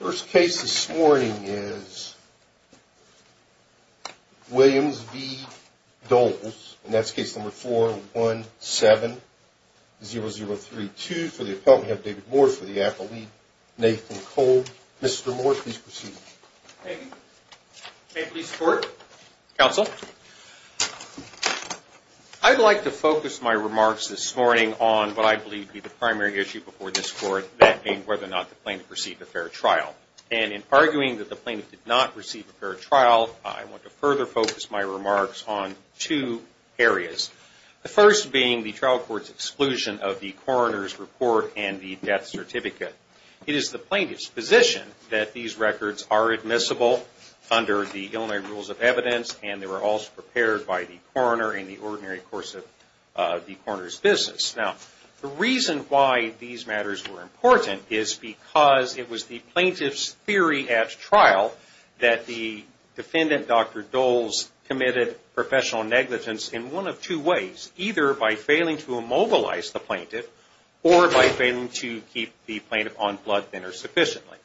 First case this morning is Williams v. Doles, and that's case number 417-0032. For the appellant, we have David Moore for the affiliate, Nathan Cole. Mr. Moore, please proceed. Thank you. May it please the Court? Counsel, I'd like to focus my remarks this morning on what I believe to be the primary issue before this Court, and that being whether or not the plaintiff received a fair trial. And in arguing that the plaintiff did not receive a fair trial, I want to further focus my remarks on two areas, the first being the trial court's exclusion of the coroner's report and the death certificate. It is the plaintiff's position that these records are admissible under the Illinois Rules of Evidence, and they were also prepared by the coroner in the ordinary course of the coroner's business. Now, the reason why these matters were important is because it was the plaintiff's theory at trial that the defendant, Dr. Doles, committed professional negligence in one of two ways, either by failing to immobilize the plaintiff or by failing to keep the plaintiff on blood thinner sufficiently.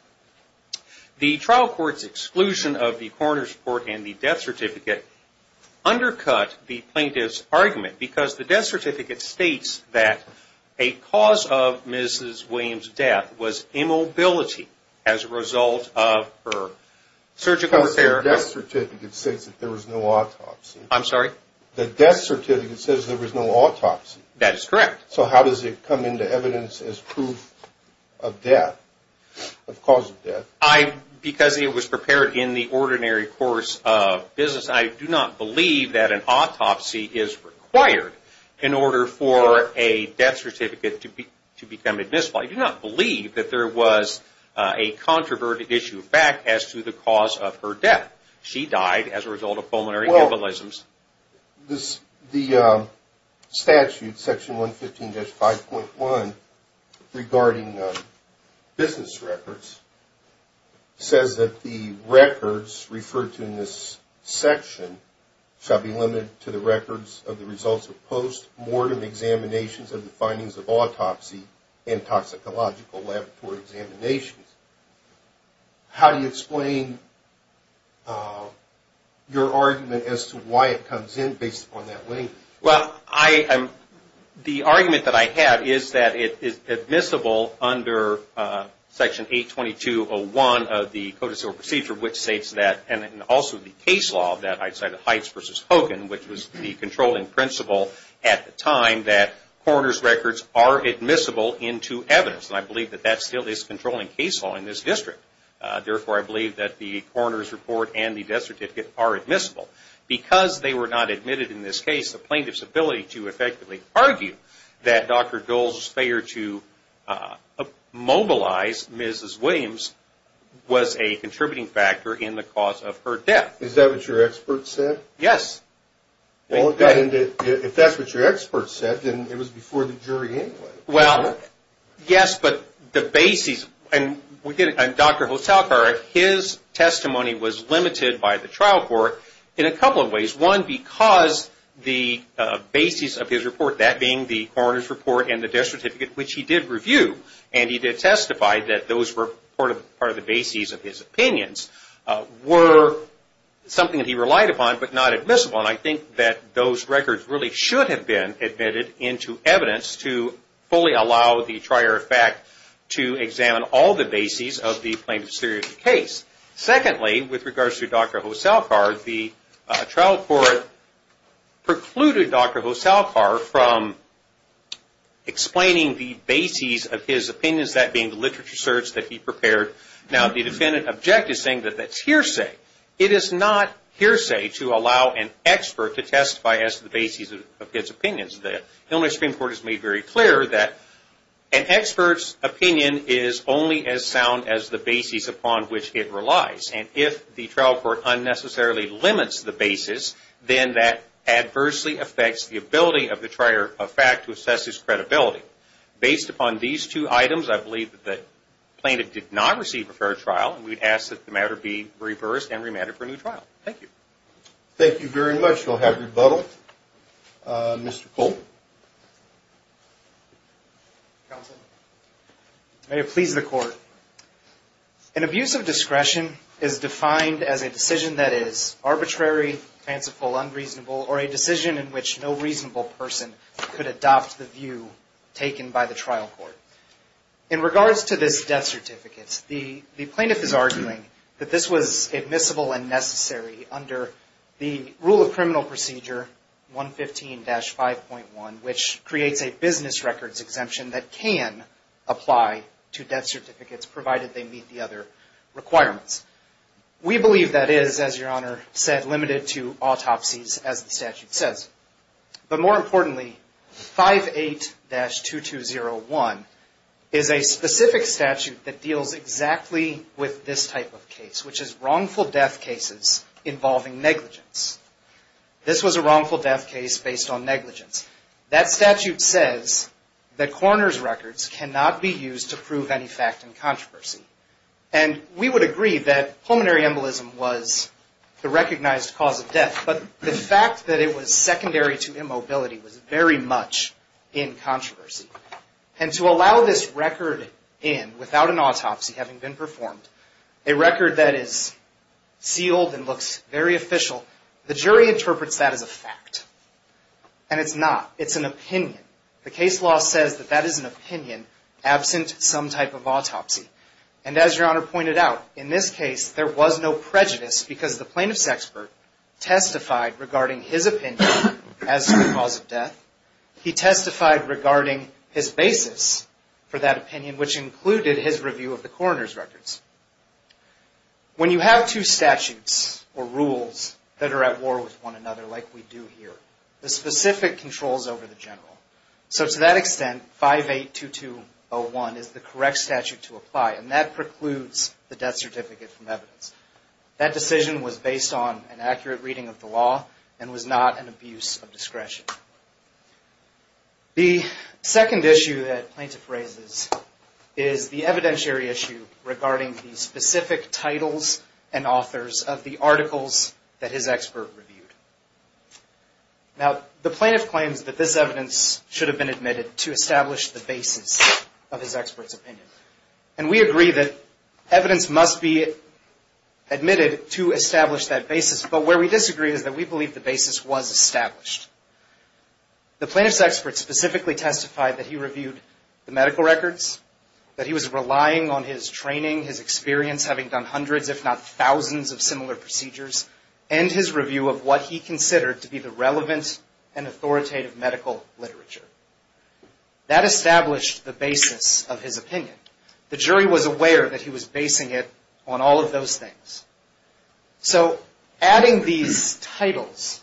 The trial court's exclusion of the coroner's report and the death certificate undercut the plaintiff's argument because the death certificate states that a cause of Mrs. Williams' death was immobility as a result of her surgical repair. The death certificate states that there was no autopsy. I'm sorry? The death certificate says there was no autopsy. That is correct. So how does it come into evidence as proof of death, of cause of death? Because it was prepared in the ordinary course of business, I do not believe that an autopsy is required in order for a death certificate to become admissible. I do not believe that there was a controverted issue of fact as to the cause of her death. She died as a result of pulmonary embolisms. The statute, section 115-5.1, regarding business records says that the records referred to in this section shall be limited to the records of the results of post-mortem examinations of the findings of autopsy and toxicological laboratory examinations. How do you explain your argument as to why it comes in based upon that link? Well, the argument that I have is that it is admissible under section 822-01 of the Code of Civil Procedure, which states that, and also the case law of that, I'd say the Heights v. Hogan, which was the controlling principle at the time, that coroner's records are admissible into evidence. And I believe that that still is controlling case law in this district. Therefore, I believe that the coroner's report and the death certificate are admissible. Because they were not admitted in this case, the plaintiff's ability to effectively argue that Dr. Dole's failure to mobilize Mrs. Williams was a contributing factor in the cause of her death. Is that what your expert said? Yes. If that's what your expert said, then it was before the jury anyway. Well, yes, but the basis, and Dr. Hotalkar, his testimony was limited by the trial court in a couple of ways. One, because the basis of his report, that being the coroner's report and the death certificate, which he did review and he did testify that those were part of the basis of his opinions, were something that he relied upon but not admissible. And I think that those records really should have been admitted into evidence to fully allow the trier of fact to examine all the bases of the plaintiff's theory of the case. Secondly, with regards to Dr. Hotalkar, the trial court precluded Dr. Hotalkar from explaining the bases of his opinions, that being the literature search that he prepared. Now, the defendant objected, saying that that's hearsay. It is not hearsay to allow an expert to testify as to the basis of his opinions. The Illinois Supreme Court has made very clear that an expert's opinion is only as sound as the basis upon which it relies. And if the trial court unnecessarily limits the basis, then that adversely affects the ability of the trier of fact to assess his credibility. Based upon these two items, I believe that the plaintiff did not receive a fair trial, and we would ask that the matter be reversed and remanded for a new trial. Thank you. Thank you very much. We'll have rebuttal. Mr. Colt. May it please the Court. An abuse of discretion is defined as a decision that is arbitrary, fanciful, unreasonable, or a decision in which no reasonable person could adopt the view taken by the trial court. In regards to this death certificate, the plaintiff is arguing that this was admissible and necessary under the rule of criminal procedure 115-5.1, which creates a business records exemption that can apply to death certificates, provided they meet the other requirements. We believe that is, as Your Honor said, limited to autopsies, as the statute says. But more importantly, 58-2201 is a specific statute that deals exactly with this type of case, which is wrongful death cases involving negligence. This was a wrongful death case based on negligence. That statute says that coroner's records cannot be used to prove any fact in controversy. And we would agree that pulmonary embolism was the recognized cause of death, but the fact that it was secondary to immobility was very much in controversy. And to allow this record in without an autopsy having been performed, a record that is sealed and looks very official, the jury interprets that as a fact. And it's not. It's an opinion. The case law says that that is an opinion absent some type of autopsy. And as Your Honor pointed out, in this case, there was no prejudice, because the plaintiff's expert testified regarding his opinion as to the cause of death. He testified regarding his basis for that opinion, which included his review of the coroner's records. When you have two statutes or rules that are at war with one another like we do here, the specific controls over the general. So to that extent, 582201 is the correct statute to apply, and that precludes the death certificate from evidence. That decision was based on an accurate reading of the law and was not an abuse of discretion. The second issue that plaintiff raises is the evidentiary issue regarding the specific titles and authors of the articles that his expert reviewed. Now, the plaintiff claims that this evidence should have been admitted to establish the basis of his expert's opinion. And we agree that evidence must be admitted to establish that basis, but where we disagree is that we believe the basis was established. The plaintiff's expert specifically testified that he reviewed the medical records, that he was relying on his training, his experience having done hundreds, if not thousands of similar procedures, and his review of what he considered to be the relevant and authoritative medical literature. That established the basis of his opinion. The jury was aware that he was basing it on all of those things. So adding these titles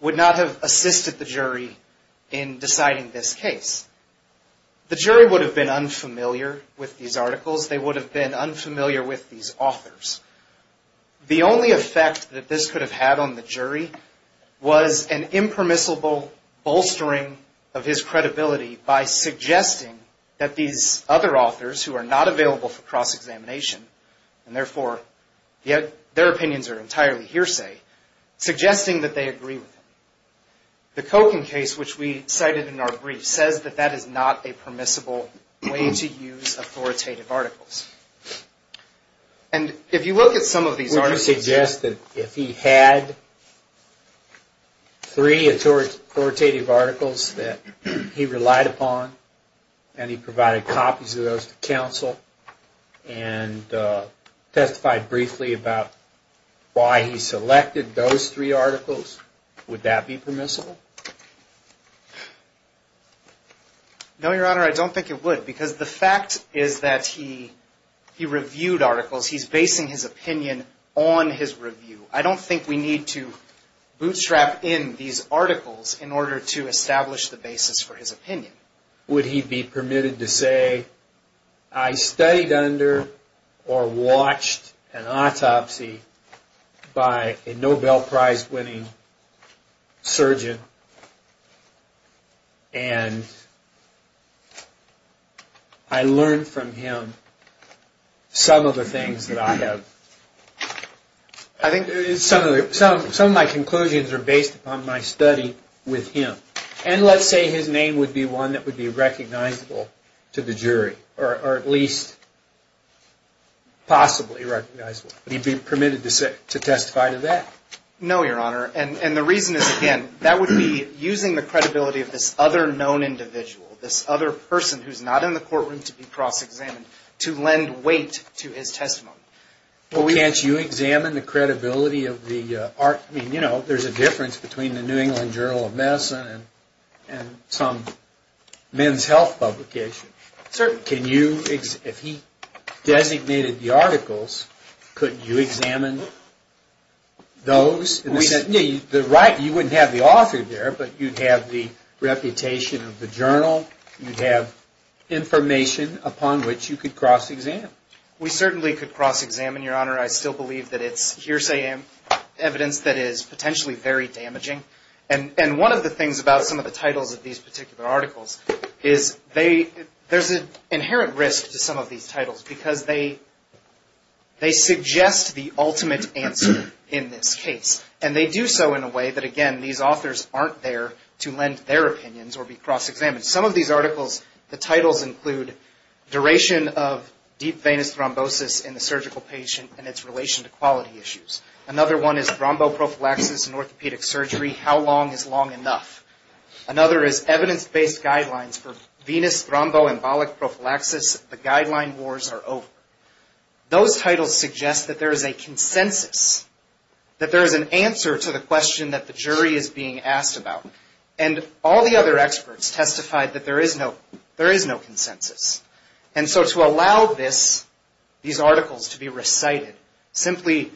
would not have assisted the jury in deciding this case. The jury would have been unfamiliar with these articles. They would have been unfamiliar with these authors. The only effect that this could have had on the jury was an impermissible bolstering of his credibility by suggesting that these other authors, who are not available for cross-examination, and therefore their opinions are entirely hearsay, suggesting that they agree with him. The Kochen case, which we cited in our brief, says that that is not a permissible way to use authoritative articles. And if you look at some of these articles... Would you suggest that if he had three authoritative articles that he relied upon, and he provided copies of those to counsel, and testified briefly about why he selected those three articles, would that be permissible? No, Your Honor, I don't think it would. Because the fact is that he reviewed articles. He's basing his opinion on his review. I don't think we need to bootstrap in these articles in order to establish the basis for his opinion. I think, would he be permitted to say, I studied under or watched an autopsy by a Nobel Prize winning surgeon, and I learned from him some of the things that I have... I think some of my conclusions are based upon my study with him. And let's say his name would be one that would be recognizable to the jury, or at least possibly recognizable. Would he be permitted to testify to that? No, Your Honor, and the reason is, again, that would be using the credibility of this other known individual, this other person who's not in the courtroom to be cross-examined, to lend weight to his testimony. Well, can't you examine the credibility of the... I mean, you know, there's a difference between the New England Journal of Medicine and some men's health publication. Certainly. If he designated the articles, could you examine those? You wouldn't have the author there, but you'd have the reputation of the journal. You'd have information upon which you could cross-examine. We certainly could cross-examine, Your Honor. I still believe that it's hearsay evidence that is potentially very damaging. And one of the things about some of the titles of these particular articles is they... there's an inherent risk to some of these titles because they suggest the ultimate answer in this case. And they do so in a way that, again, these authors aren't there to lend their opinions or be cross-examined. Some of these articles, the titles include duration of deep venous thrombosis in the surgical patient and its relation to quality issues. Another one is thromboprophylaxis in orthopedic surgery. How long is long enough? Another is evidence-based guidelines for venous thromboembolic prophylaxis. The guideline wars are over. Those titles suggest that there is a consensus, that there is an answer to the question that the jury is being asked about. And all the other experts testified that there is no consensus. And so to allow these articles to be recited simply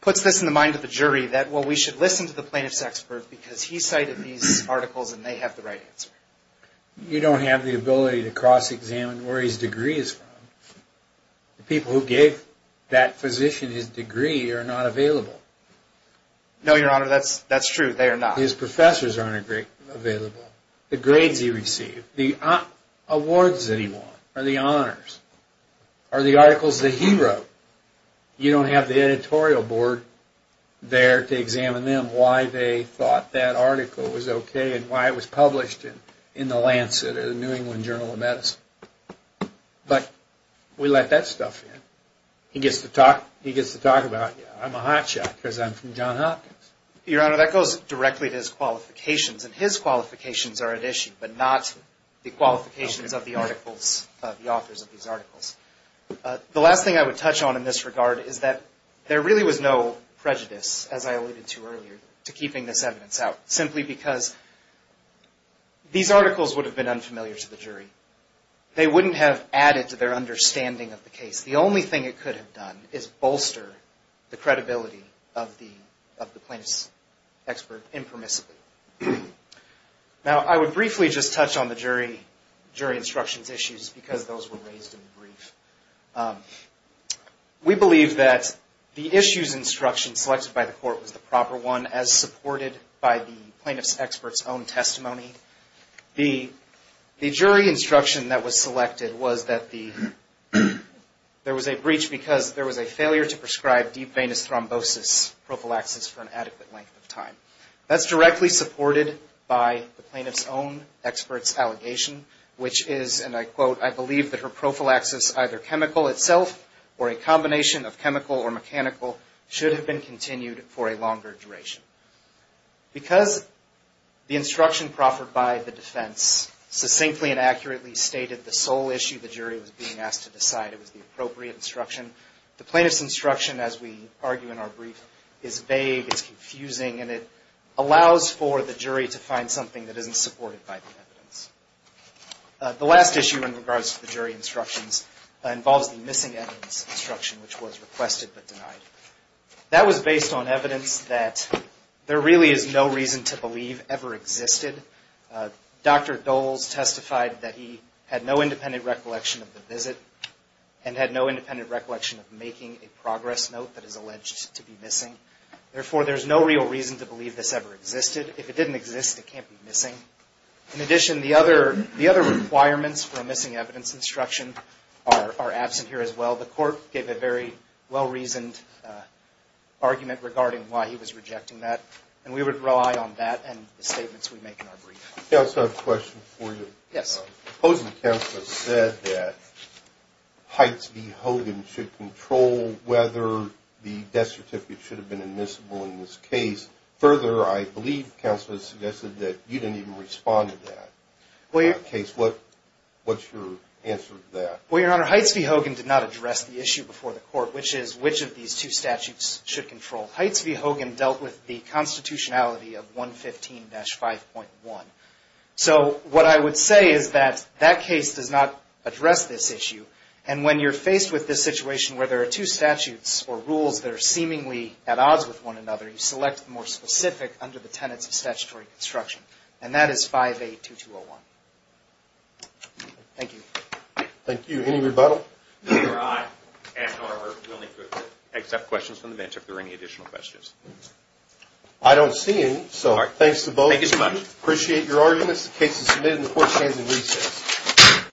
puts this in the mind of the jury that, well, we should listen to the plaintiff's expert because he cited these articles and they have the right answer. You don't have the ability to cross-examine where his degree is from. The people who gave that physician his degree are not available. No, Your Honor, that's true. They are not. His professors aren't available. The grades he received, the awards that he won, or the honors, or the articles that he wrote, you don't have the editorial board there to examine them, why they thought that article was okay and why it was published in the Lancet or the New England Journal of Medicine. But we let that stuff in. He gets to talk about it. I'm a hot shot because I'm from John Hopkins. Your Honor, that goes directly to his qualifications. And his qualifications are at issue, but not the qualifications of the authors of these articles. The last thing I would touch on in this regard is that there really was no prejudice, as I alluded to earlier, to keeping this evidence out, simply because these articles would have been unfamiliar to the jury. They wouldn't have added to their understanding of the case. The only thing it could have done is bolster the credibility of the plaintiff's expert impermissibly. Now, I would briefly just touch on the jury instructions issues because those were raised in the brief. We believe that the issues instruction selected by the court was the proper one, as supported by the plaintiff's expert's own testimony. The jury instruction that was selected was that there was a breach because there was a failure to prescribe deep venous thrombosis prophylaxis for an adequate length of time. That's directly supported by the plaintiff's own expert's allegation, which is, and I quote, I believe that her prophylaxis, either chemical itself or a combination of chemical or mechanical, should have been continued for a longer duration. Because the instruction proffered by the defense succinctly and accurately stated the sole issue the jury was being asked to decide, it was the appropriate instruction, the plaintiff's instruction, as we argue in our brief, is vague, it's confusing, and it allows for the jury to find something that isn't supported by the evidence. The last issue in regards to the jury instructions involves the missing evidence instruction, which was requested but denied. That was based on evidence that there really is no reason to believe ever existed. Dr. Doles testified that he had no independent recollection of the visit and had no independent recollection of making a progress note that is alleged to be missing. Therefore, there's no real reason to believe this ever existed. If it didn't exist, it can't be missing. In addition, the other requirements for a missing evidence instruction are absent here as well. The court gave a very well-reasoned argument regarding why he was rejecting that, and we would rely on that and the statements we make in our brief. I also have a question for you. Yes. The opposing counsel has said that Heights v. Hogan should control whether the death certificate should have been admissible in this case. Further, I believe counsel has suggested that you didn't even respond to that case. What's your answer to that? Well, Your Honor, Heights v. Hogan did not address the issue before the court, which is which of these two statutes should control. Heights v. Hogan dealt with the constitutionality of 115-5.1. So what I would say is that that case does not address this issue, and when you're faced with this situation where there are two statutes or rules that are seemingly at odds with one another, you select the more specific under the tenets of statutory construction, and that is 5A2201. Thank you. Thank you. Any rebuttal? Your Honor, I ask Your Honor if you're willing to accept questions from the bench if there are any additional questions. I don't see any, so thanks to both of you. Thank you so much. Appreciate your arguments. The case is submitted, and the court stands in recess.